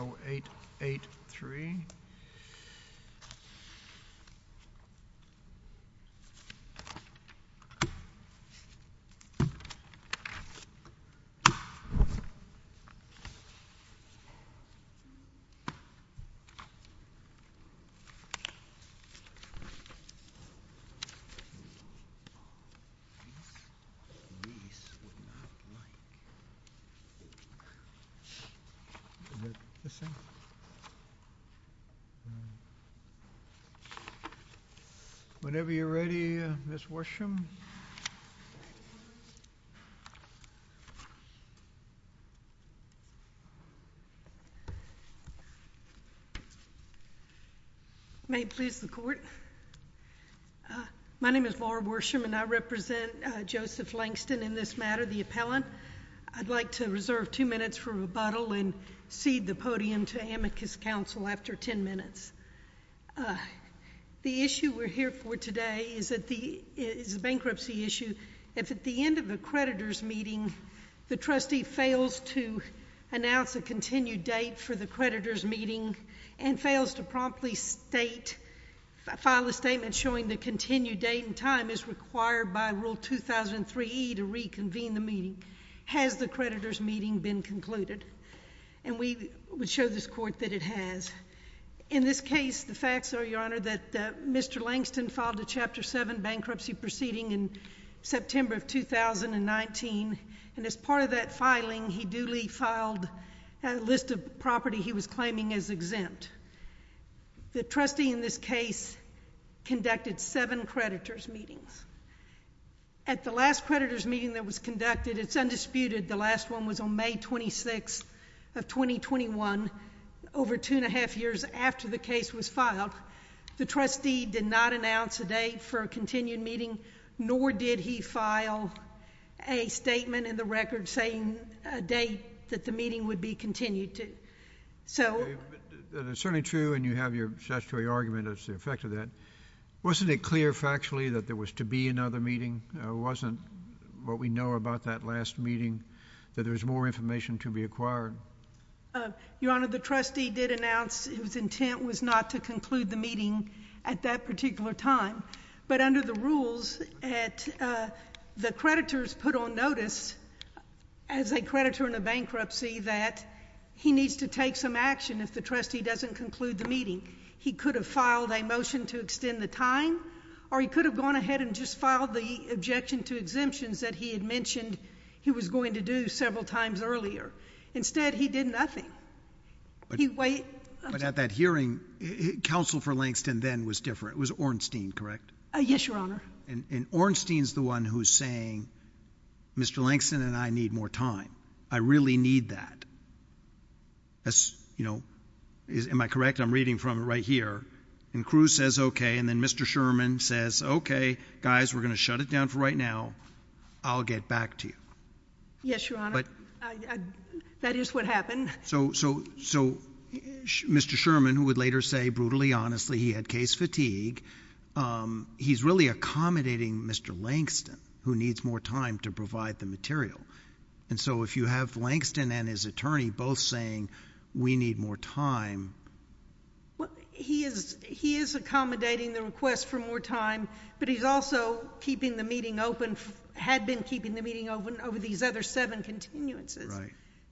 0883 Whenever you're ready, Ms. Worsham. May it please the Court. My name is Marla Worsham and I represent, uh, Joseph Langston in this matter, the Appellant. I'd like to reserve two minutes for rebuttal and cede the podium after ten minutes. Uh, the issue we're here for today is that the, is a bankruptcy issue. If at the end of a creditor's meeting, the trustee fails to announce a continued date for the creditor's meeting and fails to promptly state, file a statement showing the continued date and time is required by Rule 2003E to reconvene the meeting. Has the creditor's meeting been concluded? And we would show this Court that it has. In this case, the facts are, Your Honor, that Mr. Langston filed a Chapter 7 bankruptcy proceeding in September of 2019. And as part of that filing, he duly filed a list of property he was claiming as exempt. The trustee in this case conducted seven creditor's meetings. At the last creditor's meeting that was conducted, it's undisputed, the last one was on May 26th of 2021, over two and a half years after the case was filed. The trustee did not announce a date for a continued meeting, nor did he file a statement in the record saying a date that the meeting would be continued to. So... But it's certainly true, and you have your statutory argument as the effect of that. Wasn't it clear factually that there was to be another meeting? Wasn't what we know about that last meeting, that there was more information to be acquired? Your Honor, the trustee did announce his intent was not to conclude the meeting at that particular time. But under the rules, the creditors put on notice, as a creditor in a bankruptcy, that he needs to take some action if the trustee doesn't conclude the meeting. He could have filed a motion to extend the time, or he could have gone ahead and just filed the objection to exemptions that he had mentioned he was going to do several times earlier. Instead, he did nothing. But at that hearing, counsel for Langston then was different. It was Ornstein, correct? Yes, Your Honor. And Ornstein's the one who's saying, Mr. Langston and I need more time. I really need that. You know, am I correct? I'm reading from it right here. And Cruz says, Okay. And then Mr Sherman says, Okay, guys, we're gonna shut it down for right now. I'll get back to you. Yes, Your Honor. But that is what happened. So so so Mr Sherman, who would later say, brutally, honestly, he had case fatigue. Um, he's really accommodating Mr Langston, who needs more time to provide the material. And so if you have Langston and his attorney both saying we need more time, he is. He is accommodating the request for more time. But he's also keeping the meeting open, had been keeping the meeting open over these other seven continuances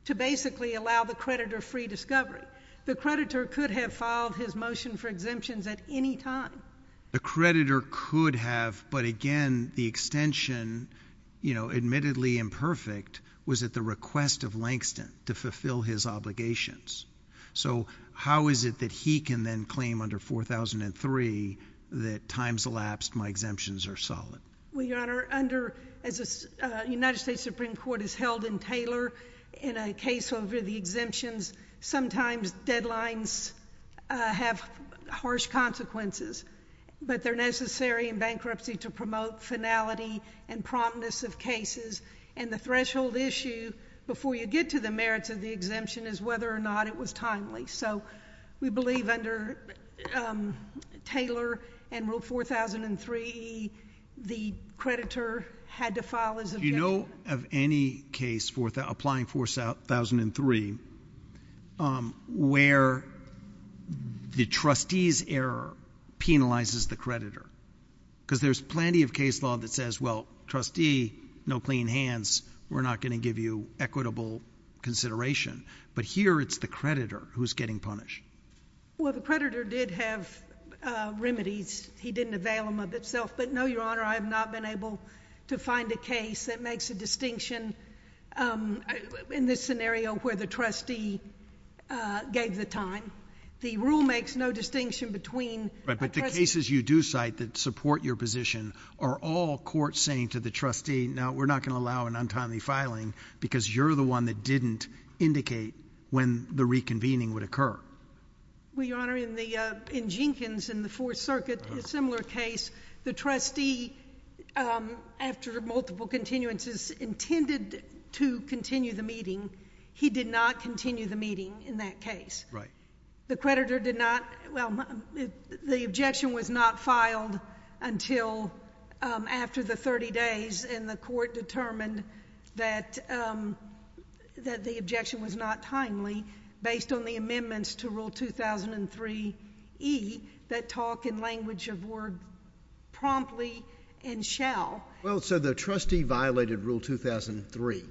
to basically allow the creditor free discovery. The creditor could have filed his motion for exemptions at any time. The creditor could have. But again, the extension, you know, admittedly imperfect, was at the request of Langston to fulfill his obligations. So how is it that he can then claim under 4000 and three that times elapsed? My exemptions are solid. Well, Your Honor, under as a United States Supreme Court is held in Taylor in a case over the exemptions. Sometimes deadlines have harsh consequences, but they're necessary in bankruptcy to promote finality and promptness of cases. And the threshold issue before you get to the merits of the exemption is whether or not it was timely. So we believe under Taylor and ruled 4000 and three, the creditor had to file is, you know, of any case for the applying force out 1003 where the trustees error penalizes the creditor because there's plenty of case law that says, Well, trustee, no clean hands. We're not going to give you equitable consideration. But here it's the creditor who's getting punished. Well, the creditor did have remedies. He didn't avail him of itself. But no, Your Honor, I have not been able to find a case that makes a distinction. Um, in this scenario where the trustee gave the time, the rule makes no distinction between the cases you do cite that support your position are all court saying to the trustee. Now we're not gonna allow an untimely filing because you're the one that didn't indicate when the reconvening would occur. Well, Your Honor, in the in Jenkins in the Fourth Circuit, similar case, the trustee, um, after multiple continuances intended to continue the meeting, he did not continue the meeting in that case, right? The creditor did not. Well, the objection was not filed until after the 30 days in the court determined that, um, that the objection was not timely based on the amendments to Rule 2003 E that talk in language of word promptly and shall well. So the trustee violated Rule 2003.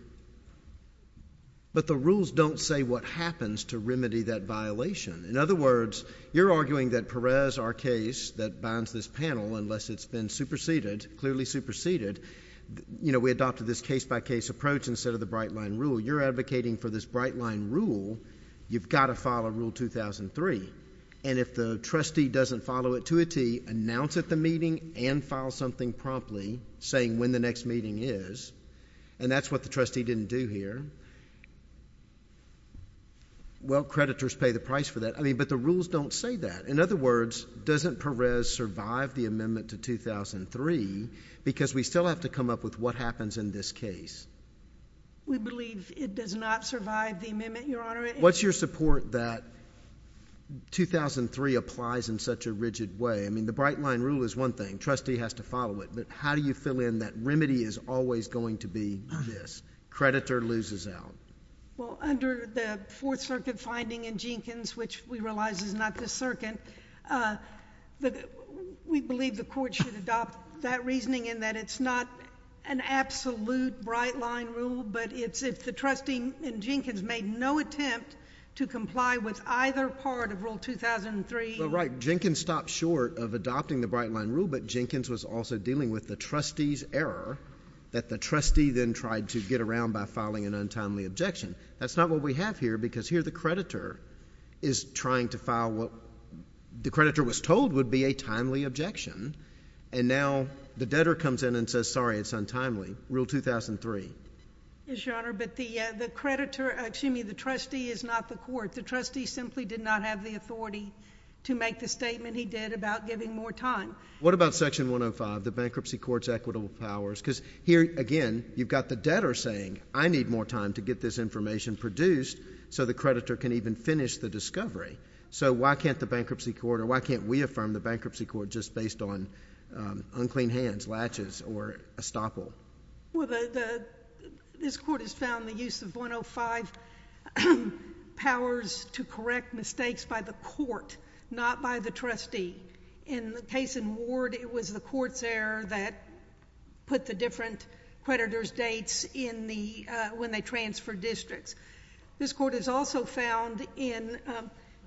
But the rules don't say what happens to remedy that violation. In other words, you're arguing that Perez, our case that binds this panel, unless it's been superseded, clearly superseded, you know, we adopted this case by case approach instead of the bright line rule. You're advocating for this bright line rule. You've got to follow Rule 2003. And if the trustee doesn't follow it to a T, announce at the meeting and file something promptly saying when the next meeting is, and that's what the trustee didn't do here, well, creditors pay the price for that. I mean, but the rules don't say that. In other words, doesn't Perez survive the amendment to 2003 because we still have to come up with what happens in this case? We believe it does not survive the amendment, Your Honor. What's your support that 2003 applies in such a rigid way? I mean, the bright line rule is one thing. Trustee has to follow it. But how do you fill in that remedy is always going to be this, creditor loses out? Well, under the Fourth Circuit finding in Jenkins, which we realize is not this circuit, we believe the Court should adopt that reasoning in that it's not an absolute bright line rule, but it's if the trustee in Jenkins made no attempt to comply with either part of Rule 2003... Well, right. Jenkins stopped short of adopting the bright line rule, but Jenkins was also dealing with the trustee's error that the trustee then tried to get around by filing an untimely objection. That's not what we have here because here the creditor is trying to file what the creditor was told would be a timely objection, and now the debtor comes in and says, sorry, it's untimely, Rule 2003. Yes, Your Honor, but the creditor, excuse me, the trustee is not the Court. The trustee simply did not have the authority to make the statement he did about giving more time. What about Section 105, the bankruptcy court's equitable powers? Because here, again, you've got the debtor saying, I need more time to get this information produced so the creditor can even finish the discovery. So why can't the bankruptcy court, or why can't we affirm the bankruptcy court just based on unclean hands, latches, or estoppel? Well, the... this Court has found the use of 105 powers to correct mistakes by the Court, not by the trustee. In the case in Ward, it was the Court's error that put the different creditor's dates in the... when they transfer districts. This Court has also found in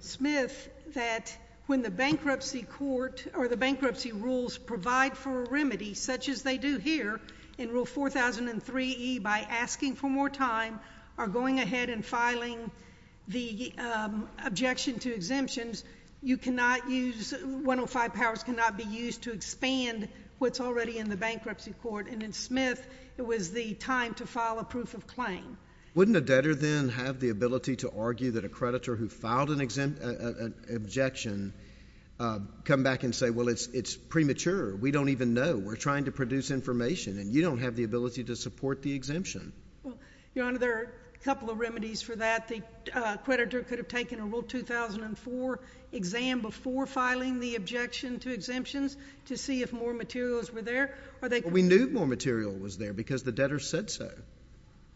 Smith that when the bankruptcy court, or the bankruptcy rules provide for a remedy, such as they do here in Rule 4003e, by asking for more time, are going ahead and filing the objection to exemptions, you cannot use... 105 powers cannot be used to expand what's already in the bankruptcy court. And in Smith, it was the time to file a proof of claim. Wouldn't a debtor then have the ability to argue that a creditor who filed an objection come back and say, well, it's premature, we don't even know, we're trying to produce information, and you don't have the ability to support the exemption? Well, Your Honor, there are a couple of remedies for that. The creditor could have taken a Rule 2004 exam before filing the objection to exemptions to see if more materials were there, or they could... But we knew more material was there because the debtor said so.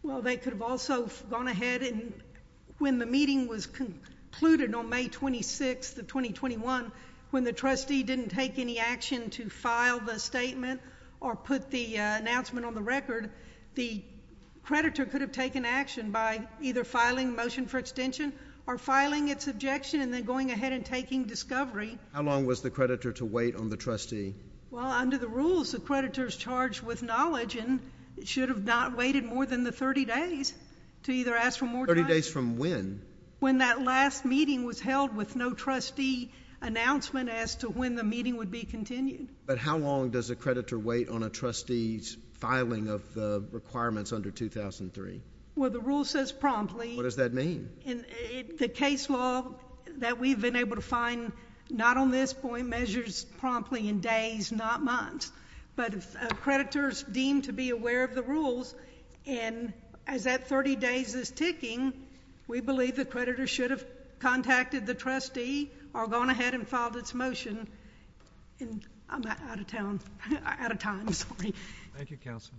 Well, they could have also gone ahead and, when the meeting was concluded on May 26th of 2021, when the trustee didn't take any action to file the statement or put the announcement on the record, the creditor could have taken action by either filing a motion for extension or filing its objection and then going ahead and taking discovery. How long was the creditor to wait on the trustee? Well, under the rules, the creditor is charged with knowledge and should have not waited more than the 30 days to either ask for more time... Thirty days from when? When that last meeting was held with no trustee announcement as to when the meeting would be continued. But how long does a creditor wait on a trustee's filing of the requirements under 2003? Well, the rule says promptly. What does that mean? The case law that we've been able to find, not on this point, measures promptly in days, not months. But if a creditor is deemed to be aware of the rules, and as that 30 days is ticking, we believe the creditor should have contacted the trustee or gone ahead and filed its motion. I'm out of time. Thank you, counsel.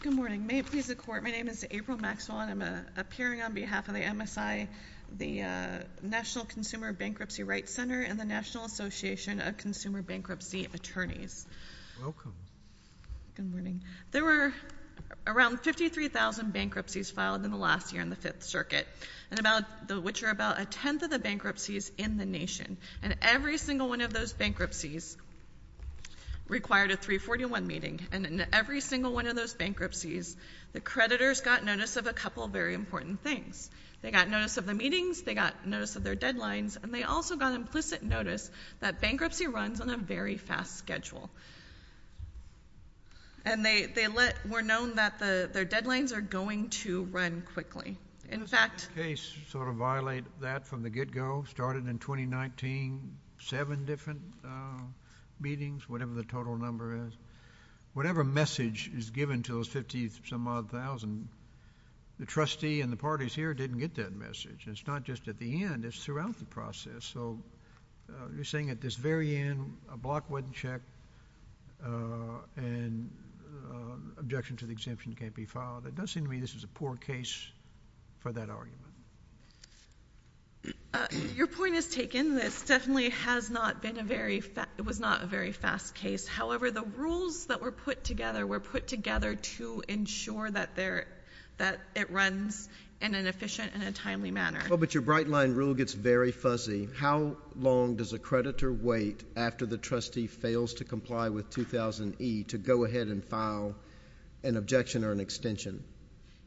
Good morning. May it please the Court, my name is April Maxwell, and I'm appearing on behalf of the MSI, the National Consumer Bankruptcy Rights Center, and the National Association of Consumer Bankruptcy Attorneys. Welcome. Good morning. There were around 53,000 bankruptcies filed in the last year in the Fifth Circuit, which are about a tenth of the bankruptcies in the nation. And every single one of those bankruptcies required a 341 meeting. And in every single one of those bankruptcies, the creditors got notice of a number of things. They got notice of the meetings, they got notice of their deadlines, and they also got implicit notice that bankruptcy runs on a very fast schedule. And they were known that their deadlines are going to run quickly. Does this case sort of violate that from the get-go? Started in 2019, seven different meetings, whatever the total number is. Whatever message is given to those 50-some-odd thousand, the trustee and the parties here didn't get that message. And it's not just at the end, it's throughout the So you're saying at this very end, a block wasn't checked and objection to the exemption can't be filed. It does seem to me this is a poor case for that argument. Your point is taken. This definitely has not been a very fast case. However, the rules that were put together were put together to ensure that it runs in an efficient and a timely manner. But your bright line rule gets very fuzzy. How long does a creditor wait after the trustee fails to comply with 2000E to go ahead and file an objection or an extension?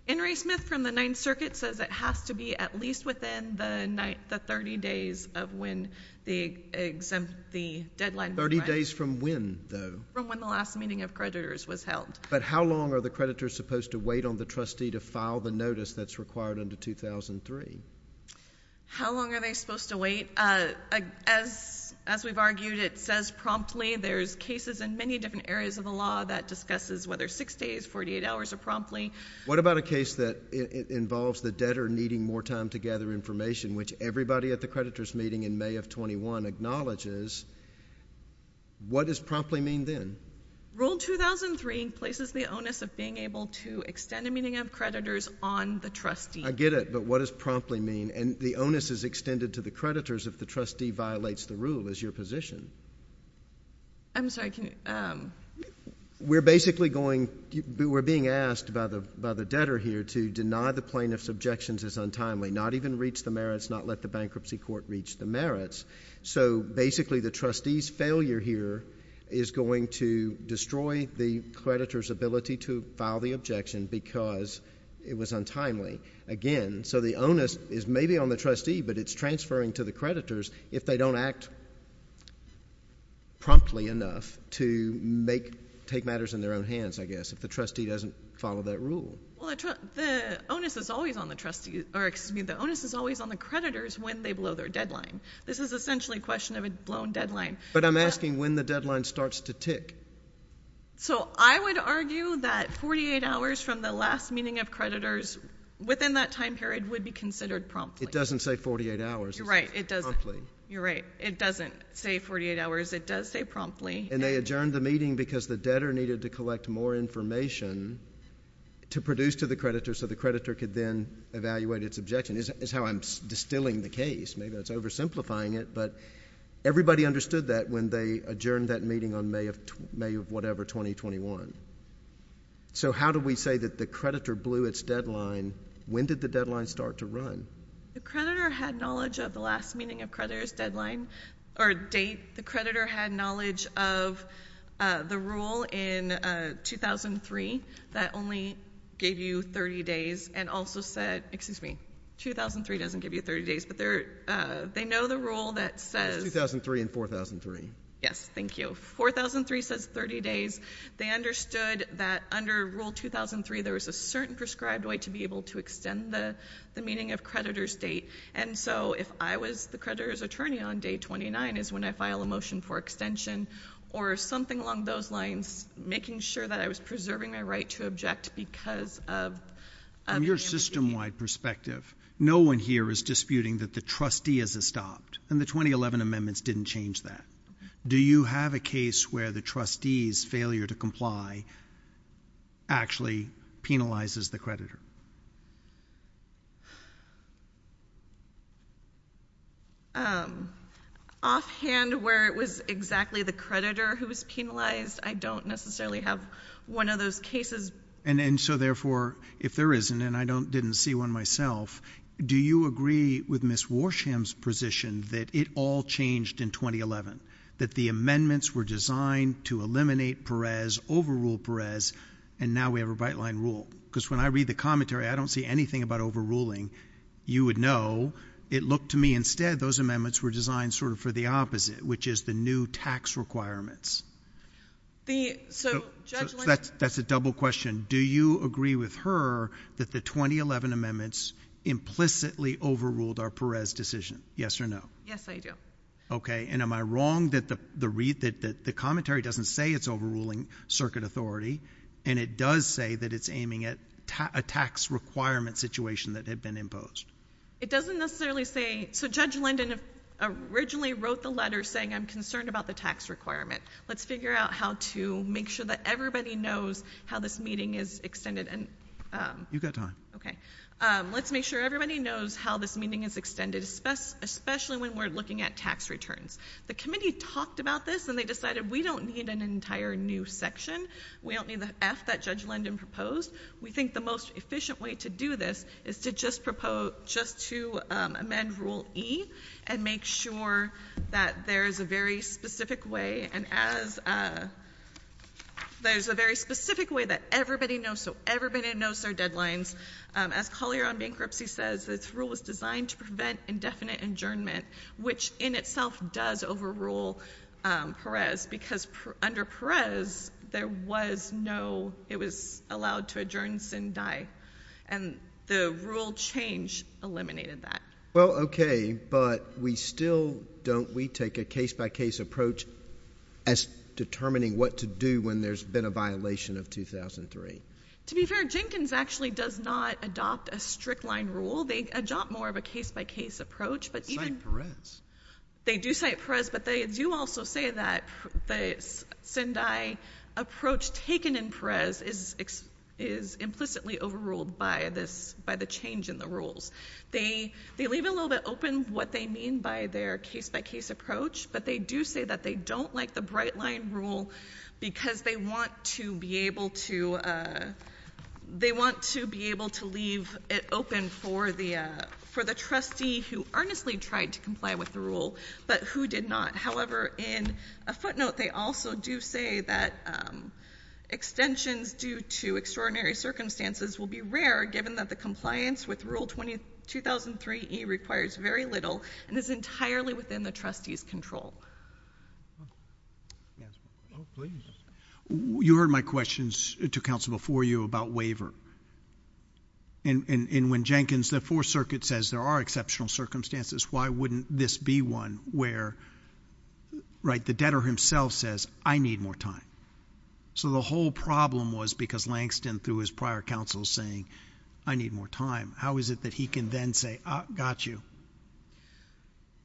Henry Smith from the Ninth Circuit says it has to be at least within the 30 days of when the deadline was passed. Thirty days from when, though? From when the last meeting of creditors was held. But how long are the creditors supposed to wait on the trustee to file the notice that's required under 2003? How long are they supposed to wait? As we've argued, it says promptly. There's cases in many different areas of the law that discusses whether 6 days, 48 hours, or promptly. What about a case that involves the debtor needing more time to gather information, which everybody at the creditors' meeting in May of 2001 acknowledges? What does promptly mean then? Rule 2003 places the onus of being able to extend a meeting of creditors on the trustee. I get it, but what does promptly mean? And the onus is extended to the creditors if the trustee violates the rule. Is your position? I'm sorry. Can you— We're basically going—we're being asked by the debtor here to deny the plaintiff's objections as untimely, not even reach the merits, not let the bankruptcy court reach the merits. So basically, the trustee's failure here is going to destroy the creditor's ability to file the objection because it was untimely, again. So the onus is maybe on the trustee, but it's transferring to the creditors if they don't act promptly enough to take matters into their own hands, I guess, if the trustee doesn't follow that rule. Well, the onus is always on the creditors when they blow their deadline. This is essentially a question of a blown deadline. But I'm asking when the deadline starts to tick. So I would argue that 48 hours from the last meeting of creditors within that time period would be considered promptly. It doesn't say 48 hours. You're right. It doesn't. Promptly. You're right. It doesn't say 48 hours. It does say promptly. And they adjourned the meeting because the debtor needed to collect more information to produce to the creditor so the creditor could then evaluate its objection. It's how I'm distilling the case. Maybe that's oversimplifying it, but everybody understood that when they adjourned that meeting on May of whatever, 2021. So how do we say that the creditor blew its deadline? When did the deadline start to run? The creditor had knowledge of the last meeting of creditors deadline or date. The creditor had knowledge of the rule in 2003 that only gave you 30 days and also said — excuse me, 2003 doesn't give you 30 days, but they know the rule that says — It's 2003 and 4003. Yes. Thank you. 4003 says 30 days. They understood that under Rule 2003, there was a certain prescribed way to be able to extend the meeting of creditors date. And so if I was the creditor's attorney on day 29 is when I file a motion for extension or something along those lines, making sure that I was preserving my right to object because of — From your system-wide perspective, no one here is disputing that the trustee has stopped, and the 2011 amendments didn't change that. Do you have a case where the trustee's failure to comply actually penalizes the creditor? Offhand, where it was exactly the creditor who was penalized, I don't necessarily have one of those cases. And so therefore, if there isn't, and I didn't see one myself, do you agree with Ms. Warsham's position that it all changed in 2011, that the amendments were designed to eliminate Perez, overrule Perez, and now we have a bright-line rule? Because when I read the commentary, I don't see anything about overruling. You would know. It looked to me instead those amendments were designed sort of for the opposite, which is the new tax requirements. So that's a double question. Do you agree with her that the 2011 amendments implicitly overruled our Perez decision, yes or no? Yes, I do. Okay. And am I wrong that the commentary doesn't say it's overruling circuit authority, and it does say that it's aiming at a tax requirement situation that had been imposed? It doesn't necessarily say, so Judge Linden originally wrote the letter saying, I'm concerned about the tax requirement. Let's figure out how to make sure that everybody knows how this meeting is extended. You've got time. Okay. Let's make sure everybody knows how this meeting is extended, especially when we're looking at tax returns. The committee talked about this, and they decided we don't need an entire new section. We don't need the F that Judge Linden proposed. We think the most efficient way to do this is to just propose, just to amend Rule E and make sure that there is a very specific way, and as there's a very specific way that everybody knows, so everybody knows their deadlines. As Collier on bankruptcy says, this rule was designed to prevent indefinite injurment, which in itself does overrule Perez, because under Perez, there was no, it was allowed to adjourn and die, and the rule change eliminated that. Well, okay, but we still, don't we take a case-by-case approach as determining what to do when there's been a violation of 2003? To be fair, Jenkins actually does not adopt a strict line rule. They adopt more of a case-by-case approach, but even... They do cite Perez, but they do also say that the Sendai approach taken in Perez is implicitly overruled by this, by the change in the rules. They leave it a little bit open, what they mean by their case-by-case approach, but they do say that they don't like the bright line rule because they want to be able to, they want to be able to leave it open for the, for the trustee who earnestly tried to comply with the rule, but who did not. However, in a footnote, they also do say that extensions due to extraordinary circumstances will be rare, given that the compliance with Rule 20, 2003E requires very little and is entirely within the trustee's control. Yes, oh, please. You heard my questions to counsel before you about waiver. And when Jenkins, the Fourth Circuit says there are exceptional circumstances, why wouldn't this be one where, right, the debtor himself says, I need more time? So the whole problem was because Langston, through his prior counsel, is saying, I need more time. How is it that he can then say, I got you?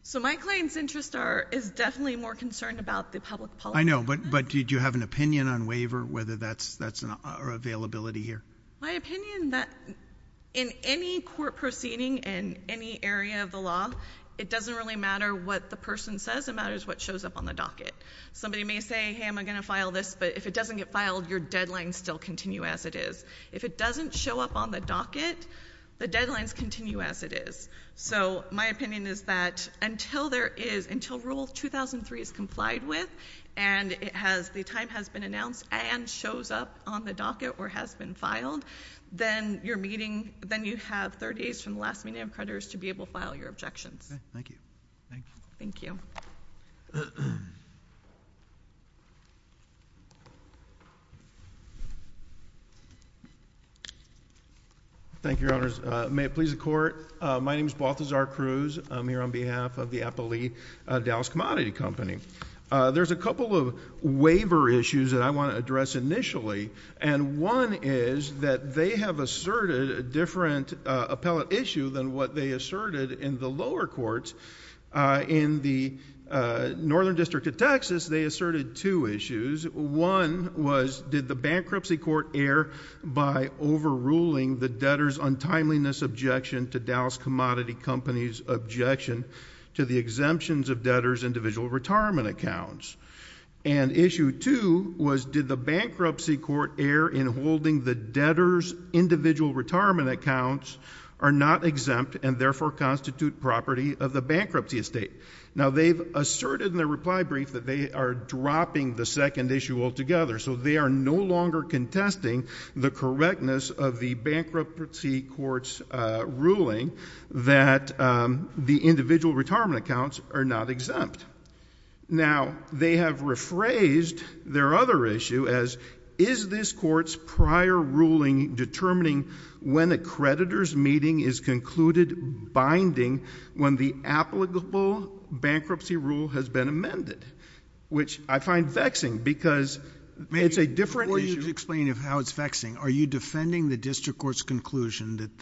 So my client's interest is definitely more concerned about the public policy... Do you have an opinion on waiver, whether that's our availability here? My opinion, that in any court proceeding in any area of the law, it doesn't really matter what the person says. It matters what shows up on the docket. Somebody may say, hey, I'm going to file this, but if it doesn't get filed, your deadlines still continue as it is. If it doesn't show up on the docket, the deadlines continue as it is. So, my opinion is that until there is... until Rule 2003 is complied with, and it has... the time has been announced and shows up on the docket or has been filed, then you're meeting... then you have 30 days from the last meeting of creditors to be able to file your objections. Okay. Thank you. Thank you. Thank you. Thank you, Your Honors. May it please the Court. My name is Baltazar Cruz. I'm here on behalf of the Appellee Dallas Commodity Company. There's a couple of waiver issues that I want to address initially, and one is that they have asserted a different appellate issue than what they asserted in the lower courts. In the Northern District of Texas, they asserted two issues. One was, did the bankruptcy court err by overruling the debtor's untimeliness objection to the Dallas Commodity Company's objection to the exemptions of debtor's individual retirement accounts? And issue two was, did the bankruptcy court err in holding the debtor's individual retirement accounts are not exempt and therefore constitute property of the bankruptcy estate? Now, they've asserted in their reply brief that they are dropping the second issue altogether, so they are no longer contesting the correctness of the bankruptcy court's ruling that the individual retirement accounts are not exempt. Now, they have rephrased their other issue as, is this court's prior ruling determining when a creditor's meeting is concluded binding when the applicable bankruptcy rule has been amended, which I find vexing because it's a different issue... Before you explain how it's vexing, are you defending the district court's conclusion that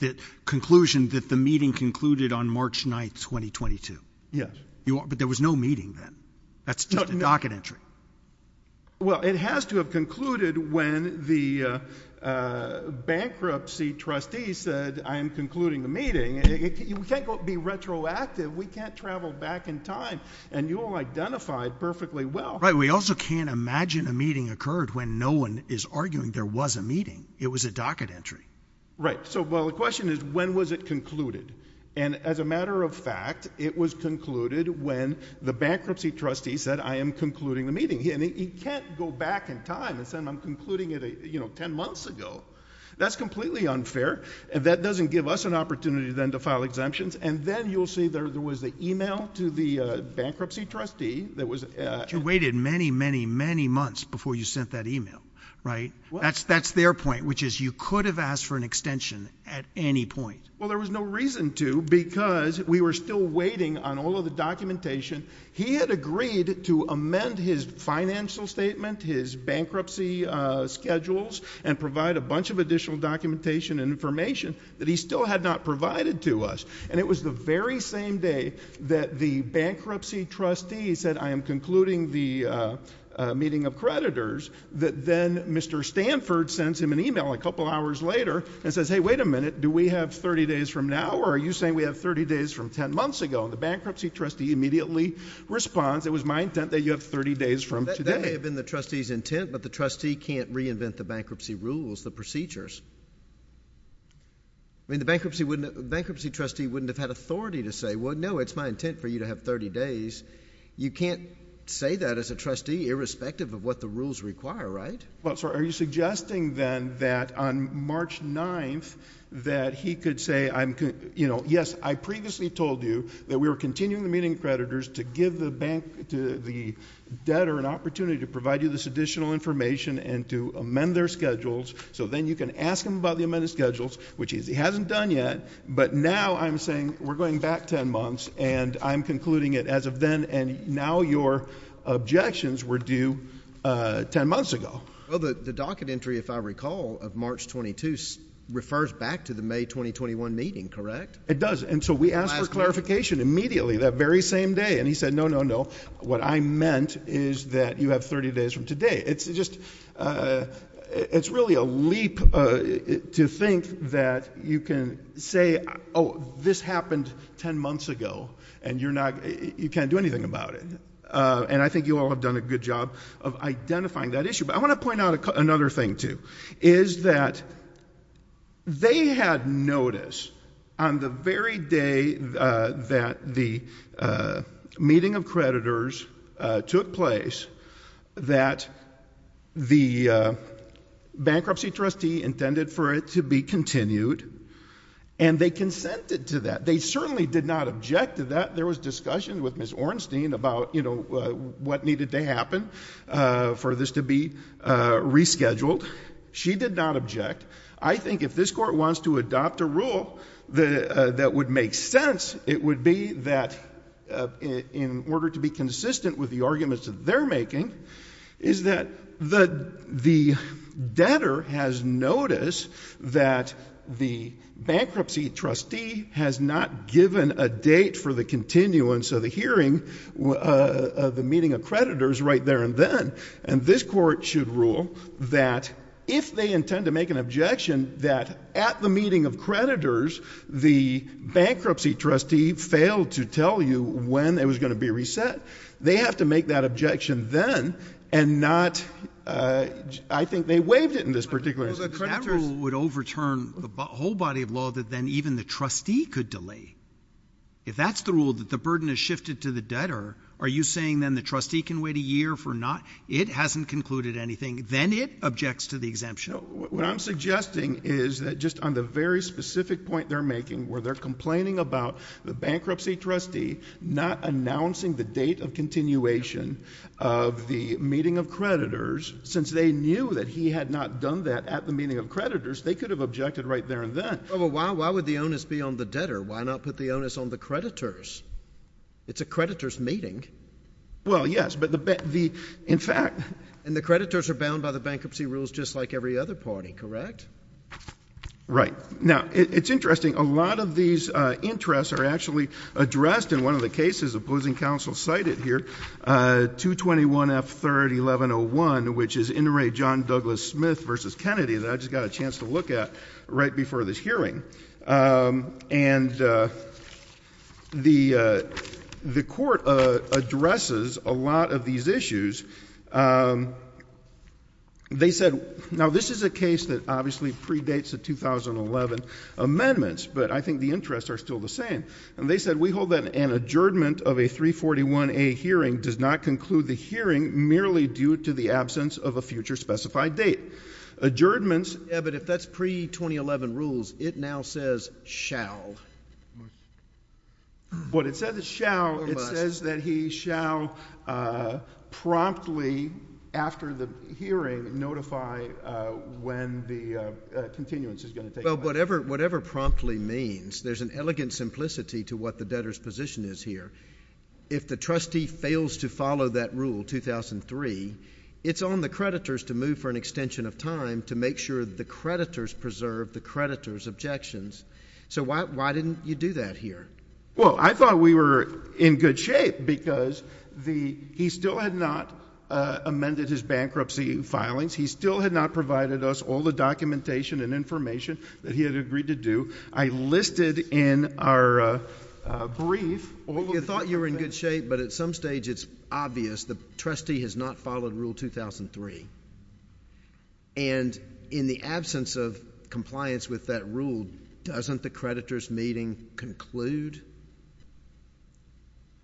the meeting concluded on March 9th, 2022? Yes. But there was no meeting then. That's just a docket entry. Well, it has to have concluded when the bankruptcy trustee said, I am concluding the meeting. We can't be retroactive. We can't travel back in time. And you all identified perfectly well... We also can't imagine a meeting occurred when no one is arguing there was a meeting. It was a docket entry. Right. So, well, the question is, when was it concluded? And as a matter of fact, it was concluded when the bankruptcy trustee said, I am concluding the meeting. And he can't go back in time and say, I'm concluding it, you know, 10 months ago. That's completely unfair. That doesn't give us an opportunity then to file exemptions. And then you'll see there was the email to the bankruptcy trustee that was... But you waited many, many, many months before you sent that email, right? That's their point, which is you could have asked for an extension at any point. Well, there was no reason to because we were still waiting on all of the documentation. He had agreed to amend his financial statement, his bankruptcy schedules, and provide a bunch of additional documentation and information that he still had not provided to us. And it was the very same day that the bankruptcy trustee said, I am concluding the meeting of creditors, that then Mr. Stanford sends him an email a couple hours later and says, hey, wait a minute. Do we have 30 days from now, or are you saying we have 30 days from 10 months ago? And the bankruptcy trustee immediately responds, it was my intent that you have 30 days from today. That may have been the trustee's intent, but the trustee can't reinvent the bankruptcy rules, the procedures. I mean, the bankruptcy trustee wouldn't have had authority to say, well, no, it's my intent for you to have 30 days. You can't say that as a trustee, irrespective of what the rules require, right? Well, sir, are you suggesting then that on March 9th that he could say, yes, I previously told you that we were continuing the meeting of creditors to give the debtor an opportunity to provide you this additional information and to amend their schedules, so then you can ask him about the amended schedules, which he hasn't done yet, but now I'm saying we're going back 10 months, and I'm concluding it as of then, and now your objections were due 10 months ago. Well, the docket entry, if I recall, of March 22 refers back to the May 2021 meeting, correct? It does. And so we asked for clarification immediately that very same day, and he said, no, no, no. What I meant is that you have 30 days from today. It's just, it's really a leap to think that you can say, oh, this happened 10 months ago, and you're not, you can't do anything about it, and I think you all have done a good job of identifying that issue, but I want to point out another thing, too, is that they had notice on the very day that the meeting of creditors took place that the bankruptcy trustee intended for it to be continued, and they consented to that. They certainly did not object to that. There was discussion with Ms. Ornstein about, you know, what needed to happen for this to be rescheduled. She did not object. I think if this court wants to adopt a rule that would make sense, it would be that in order to be consistent with the arguments that they're making, is that the debtor has noticed that the bankruptcy trustee has not given a date for the continuance of the hearing of the meeting of creditors right there and then, and this court should rule that if they intend to make an objection that at the meeting of creditors, the bankruptcy trustee failed to tell you when it was going to be reset. They have to make that objection then and not, I think they waived it in this particular instance. That rule would overturn the whole body of law that then even the trustee could delay. If that's the rule, that the burden is shifted to the debtor, are you saying then the trustee can wait a year for not, it hasn't concluded anything, then it objects to the exemption? What I'm suggesting is that just on the very specific point they're making, where they're complaining about the bankruptcy trustee not announcing the date of continuation of the meeting of creditors, since they knew that he had not done that at the meeting of creditors, they could have objected right there and then. Why would the onus be on the debtor? Why not put the onus on the creditors? It's a creditor's meeting. Well, yes, but the, in fact, and the creditors are bound by the bankruptcy rules just like every other party, correct? Right. Now, it's interesting. A lot of these interests are actually addressed in one of the cases opposing counsel cited here, 221F3-1101, which is inter-ray John Douglas Smith v. Kennedy that I just got a chance to look at right before this hearing. And the court addresses a lot of these issues. They said, now, this is a case that obviously predates the 2011 amendments, but I think the interests are still the same. And they said, we hold that an adjournment of a 341A hearing does not conclude the hearing merely due to the absence of a future specified date. Adjournments. Yeah, but if that's pre-2011 rules, it now says shall. What it says is shall, it says that he shall promptly, after the hearing, notify when the continuance is going to take place. Well, whatever promptly means, there's an elegant simplicity to what the debtor's position is here. If the trustee fails to follow that rule, 2003, it's on the creditors to move for an extension of time to make sure that the creditors preserve the creditor's objections. So why didn't you do that here? Well, I thought we were in good shape, because he still had not amended his bankruptcy filings. He still had not provided us all the documentation and information that he had agreed to do. I listed in our brief all of the things. You thought you were in good shape, but at some stage it's obvious the trustee has not followed Rule 2003. And in the absence of compliance with that rule, doesn't the creditors' meeting conclude?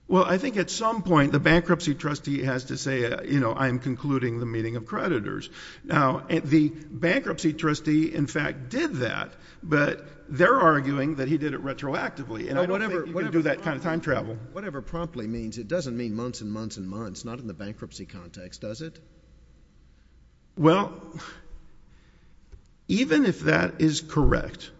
Well, I think at some point the bankruptcy trustee has to say, you know, I'm concluding the meeting of creditors. Now, the bankruptcy trustee, in fact, did that, but they're arguing that he did it retroactively, and I don't think you can do that kind of time travel. Whatever promptly means, it doesn't mean months and months and months, not in the bankruptcy context, does it? Well, even if that is correct,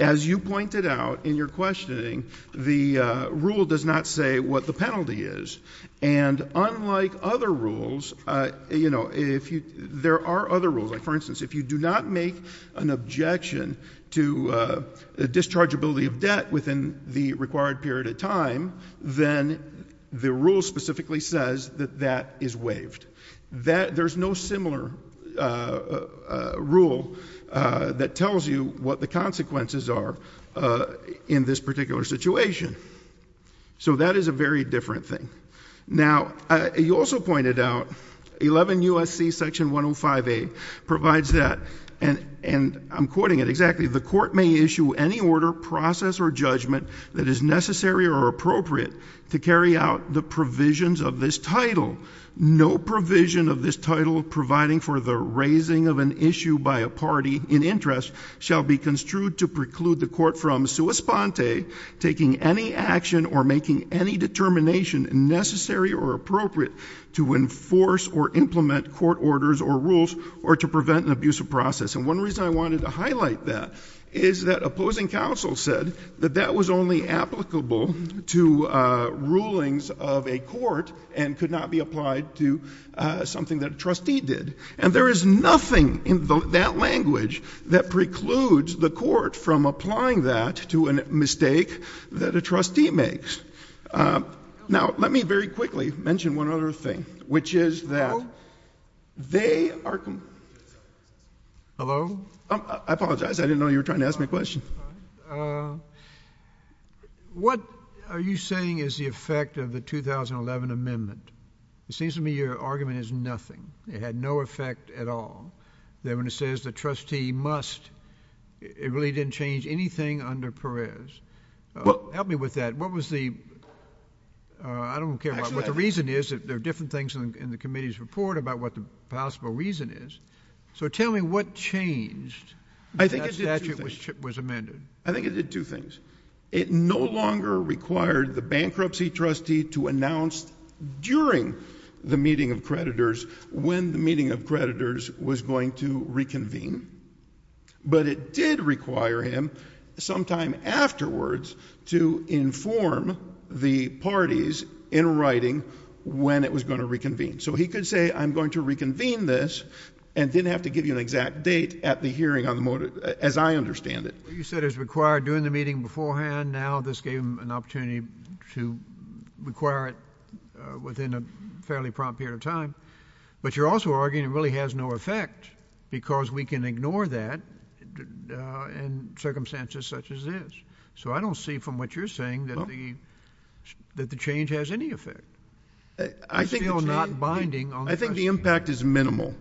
as you pointed out in your questioning, the rule does not say what the penalty is. And unlike other rules, you know, there are other rules. Like, for instance, if you do not make an objection to dischargeability of debt within the required period of time, then the rule specifically says that that is waived. There's no similar rule that tells you what the consequences are in this particular situation. So that is a very different thing. Now, you also pointed out 11 U.S.C. Section 105A provides that, and I'm quoting it exactly, the court may issue any order, process, or judgment that is necessary or appropriate to carry out the provisions of this title. No provision of this title providing for the raising of an issue by a party in interest shall be construed to preclude the court from sua sponte, taking any action or making any determination necessary or appropriate to enforce or implement court orders or rules or to prevent an abusive process. And one reason I wanted to highlight that is that opposing counsel said that that was only applicable to rulings of a court and could not be applied to something that a trustee did. And there is nothing in that language that precludes the court from applying that to a mistake that a trustee makes. Now, let me very quickly mention one other thing, which is that they are completely exempt from parole. Thank you. I apologize. I didn't know you were trying to ask me a question. What are you saying is the effect of the 2011 amendment? It seems to me your argument is nothing. It had no effect at all then when it says the trustee must. It really didn't change anything under Perez. Well, Help me with that. What was the... I don't... Actually, The reason is that there are different things in the committee's report about what the possible reason is. So tell me what changed when that statute was amended. I think it did two things. It no longer required the bankruptcy trustee to announce during the meeting of creditors when the meeting of creditors was going to reconvene, but it did require him sometime afterwards to inform the parties in writing when it was going to reconvene. So he could say I'm going to reconvene this and then have to give you an exact date at the hearing as I understand it. You said it was required during the meeting beforehand. Now this gave him an opportunity to require it within a fairly prompt period of time. But you're also arguing it really has no effect because we can ignore that in circumstances such as this. So I don't see from what you're saying that the change has any effect. I think the impact is minimal.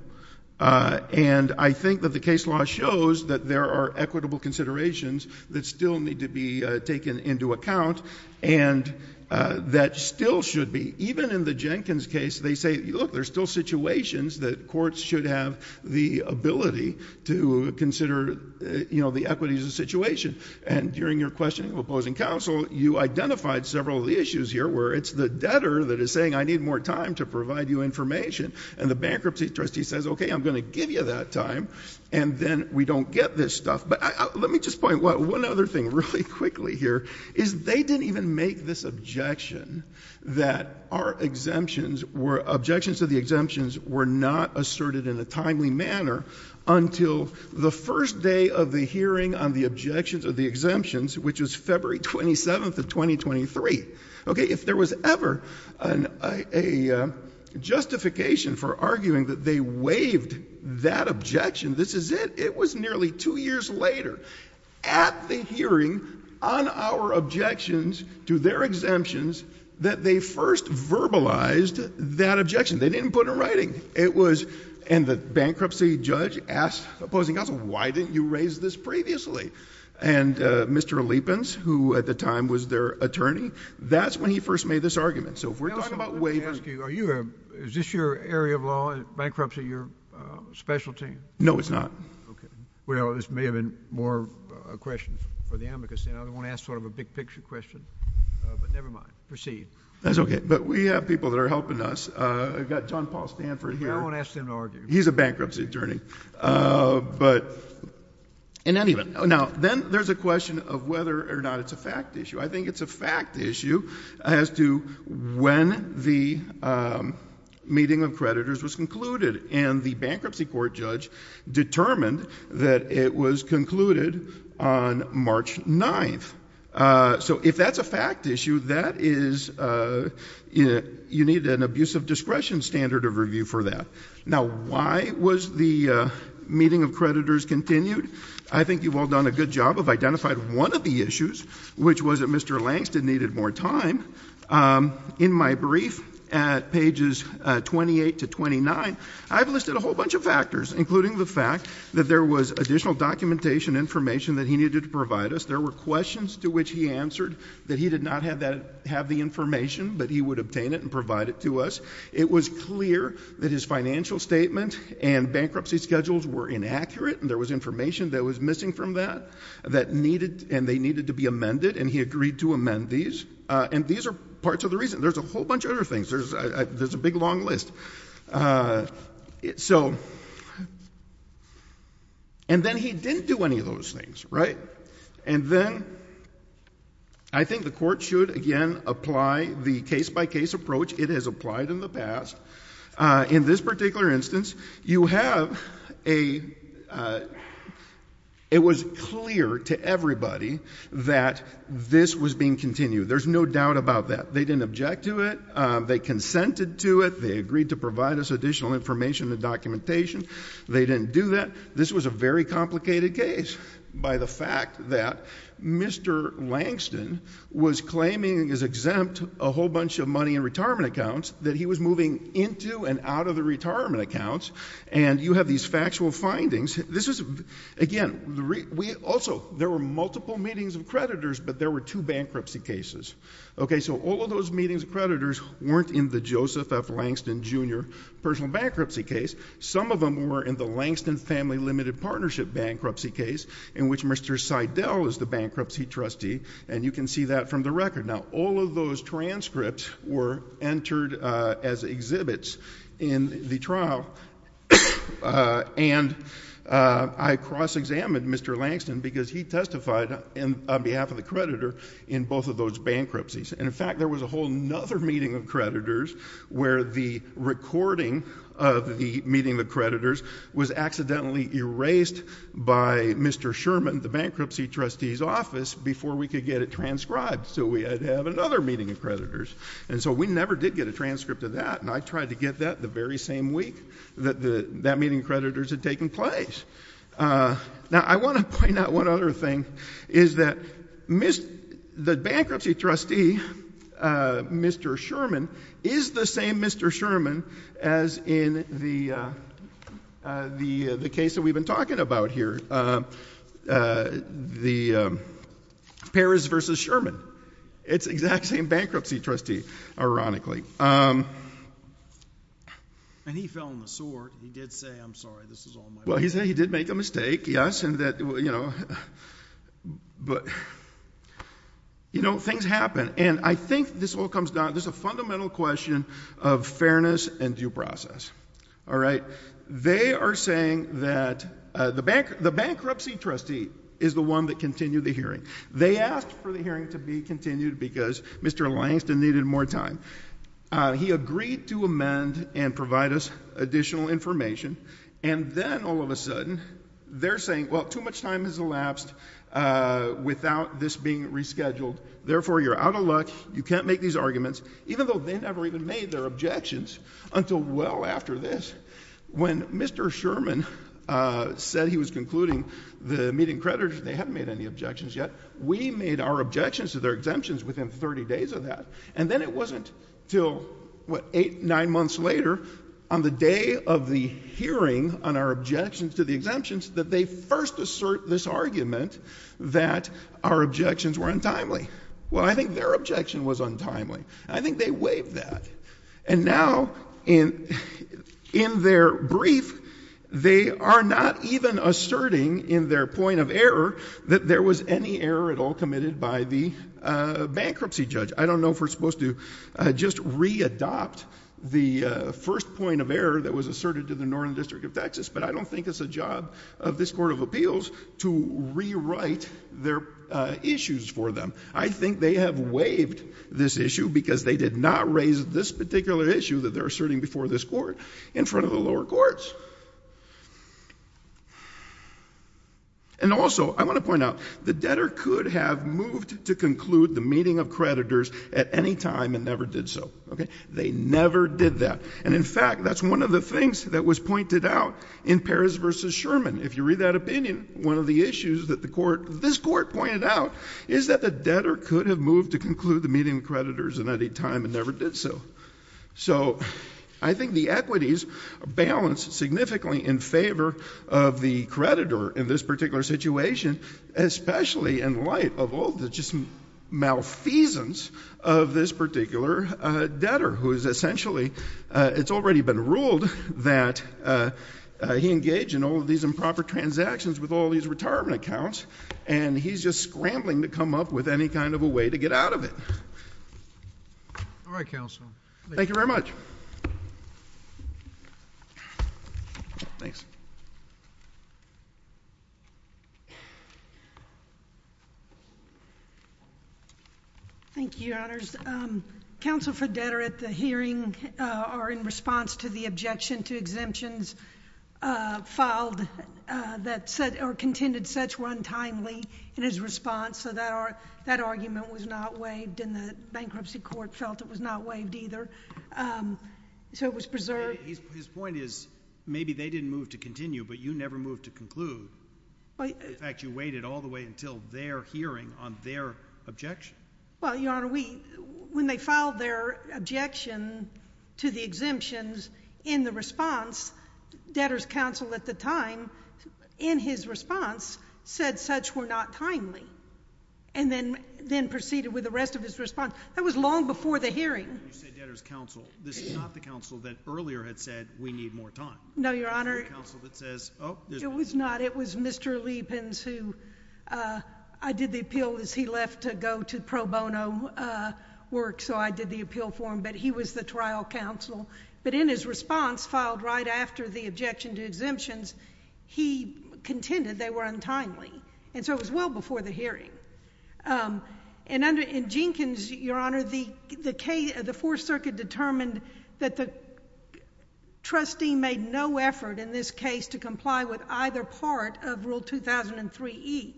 And I think that the case law shows that there are equitable considerations that still need to be taken into account and that still should be. Even in the Jenkins case, they say, look, there's still situations that courts should have the ability to consider the equities of the situation. And during your questioning of opposing counsel, you identified several of the issues here where it's the debtor that is saying I need more time to provide you information. And the bankruptcy trustee says, okay, I'm going to give you that time. And then we don't get this stuff. But let me just point one other thing really quickly here is they didn't even make this objection that our exemptions were, objections to the exemptions were not asserted in a timely manner until the first day of the hearing on the objections of the exemptions, which was February 27th of 2023. If there was ever a justification for arguing that they waived that objection, this is it. It was nearly two years later at the hearing on our objections to their exemptions that they first verbalized that objection. They didn't put it in writing. And the bankruptcy judge asked opposing counsel, why didn't you raise this previously? And Mr. Lepins, who at the time was their attorney, that's when he first made this argument. So if we're talking about waiving... Let me ask you, is this your area of law, bankruptcy your specialty? No, it's not. Okay. Well, there may have been more questions for them because the other one asked sort of a big-picture question. But never mind. Proceed. That's okay. But we have people that are helping us. I've got John Paul Stanford here. I won't ask them to argue. He's a bankruptcy attorney. But... In any event... Now, then there's a question of whether or not it's a fact issue. I think it's a fact issue as to when the meeting of creditors was concluded. And the bankruptcy court judge determined that it was concluded on March 9th. So if that's a fact issue, that is... you need an abusive discretion standard of review for that. Now, why was the meeting of creditors continued? I think you've all done a good job of identifying one of the issues, which was that Mr. Langston needed more time. In my brief at pages 28 to 29, I've listed a whole bunch of factors, including the fact that there was additional documentation information that he needed to provide us. There were questions to which he answered that he did not have the information, but he would obtain it and provide it to us. It was clear that his financial statement and bankruptcy schedules were inaccurate and there was information that was missing from that that needed... and they needed to be amended, and he agreed to amend these. And these are parts of the reason. There's a whole bunch of other things. There's a big, long list. And then he didn't do any of those things, right? And then I think the court should, again, apply the case-by-case approach it has applied in the past. In this particular instance, you have a... it was clear to everybody that this was being continued. There's no doubt about that. They didn't object to it. They consented to it. They agreed to provide us additional information and documentation. They didn't do that. This was a very complicated case by the fact that Mr. Langston was claiming as exempt a whole bunch of money in retirement accounts that he was moving into and out of the retirement accounts. And you have these factual findings. This is... again, we also... there were multiple meetings of creditors, but there were two bankruptcy cases. Okay, so all of those meetings of creditors weren't in the Joseph F. Langston, Jr. personal bankruptcy case. Some of them were in the Langston Family Limited Partnership bankruptcy case in which Mr. Seidel is the bankruptcy trustee, and you can see that from the record. Now, all of those transcripts were entered as exhibits in the trial, and I cross-examined Mr. Langston because he testified on behalf of the creditor in both of those bankruptcies. And, in fact, there was a whole other meeting of creditors where the recording of the meeting of creditors was accidentally erased by Mr. Sherman, the bankruptcy trustee's office, before we could get it transcribed. So we had to have another meeting of creditors. And so we never did get a transcript of that, and I tried to get that the very same week that that meeting of creditors had taken place. Now, I want to point out one other thing, is that the bankruptcy trustee, Mr. Sherman, is the same Mr. Sherman as in the case that we've been talking about here, the Paris v. Sherman. It's the exact same bankruptcy trustee, ironically. And he fell on the sword, and he did say, I'm sorry, this is all my fault. Well, he said he did make a mistake, yes, and that, you know, but, you know, things happen. And I think this all comes down, this is a fundamental question of fairness and due process. All right? They are saying that the bankruptcy trustee is the one that continued the hearing. They asked for the hearing to be continued because Mr. Langston needed more time. He agreed to amend and provide us additional information, and then all of a sudden, they're saying, well, too much time has elapsed without this being rescheduled, therefore, you're out of luck, you can't make these arguments, even though they never even made their objections until well after this, when Mr. Sherman said he was concluding the meeting of creditors, they haven't made any objections yet. We made our objections to their exemptions within 30 days of that. And then it wasn't until, what, eight, nine months later, on the day of the hearing on our objections to the exemptions, that they first assert this argument that our objections were untimely. Well, I think their objection was untimely, and I think they waived that. And now, in their brief, they are not even asserting in their point of error that there was any error at all committed by the bankruptcy judge. I don't know if we're supposed to just re-adopt the first point of error that was asserted to the Northern District of Texas, but I don't think it's the job of this Court of Appeals to rewrite their issues for them. I think they have waived this issue because they did not raise this particular issue that they're asserting before this Court in front of the lower courts. And also, I want to point out, the debtor could have moved to conclude the meeting of creditors at any time and never did so. They never did that. And in fact, that's one of the things that was pointed out in Perez v. Sherman. If you read that opinion, one of the issues that this Court pointed out is that the debtor could have moved to conclude the meeting of creditors at any time and never did so. So I think the equities are balanced significantly in favor of the creditor in this particular situation, especially in light of all the just malfeasance of this particular debtor, who is essentially — it's already been ruled that he engaged in all of these improper transactions with all these retirement accounts, and he's just scrambling to come up with any kind of a way to get out of it. All right, Counsel. Thank you very much. Thanks. Thank you, Your Honors. Counsel for Debtor, at the hearing or in response to the objection to exemptions filed that said — or contended such were untimely in his response, so that argument was not waived and the bankruptcy court felt it was not waived either, so it was preserved. His point is maybe they didn't move to continue, but you never moved to conclude. In fact, you waited all the way until their hearing on their objection. Well, Your Honor, we — when they filed their objection to the exemptions in the response, debtor's counsel at the time, in his response, said such were not timely, and then proceeded with the rest of his response. That was long before the hearing. When you say debtor's counsel, this is not the counsel that earlier had said we need more time. No, Your Honor. This is the counsel that says, oh, there's — It was not. It was Mr. Lepins who — I did the appeal as he left to go to pro bono work, so I did the appeal for him. But he was the trial counsel. But in his response, filed right after the objection to exemptions, he contended they were untimely, and so it was well before the hearing. And Jenkins, Your Honor, the Fourth Circuit determined that the trustee made no effort in this case to comply with either part of Rule 2003e,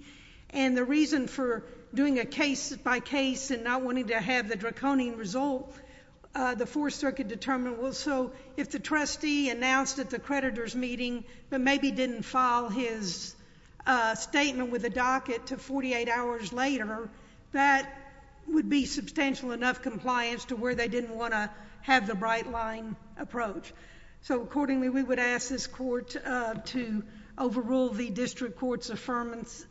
and the reason for doing a case by case and not wanting to have the draconian result, the Fourth Circuit determined, well, so if the trustee announced at the creditor's meeting but maybe didn't file his statement with a docket to 48 hours later, that would be substantial enough compliance to where they didn't want to have the bright-line approach. So accordingly, we would ask this Court to overrule the district court's affirmance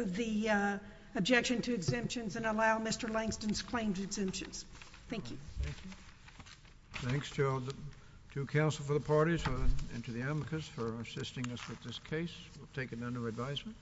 of the objection to exemptions and allow Mr. Langston's claim to exemptions. Thank you. Thank you. Thanks, Gerald. To counsel for the parties and to the advocates for assisting us with this case, we'll take it under advisement.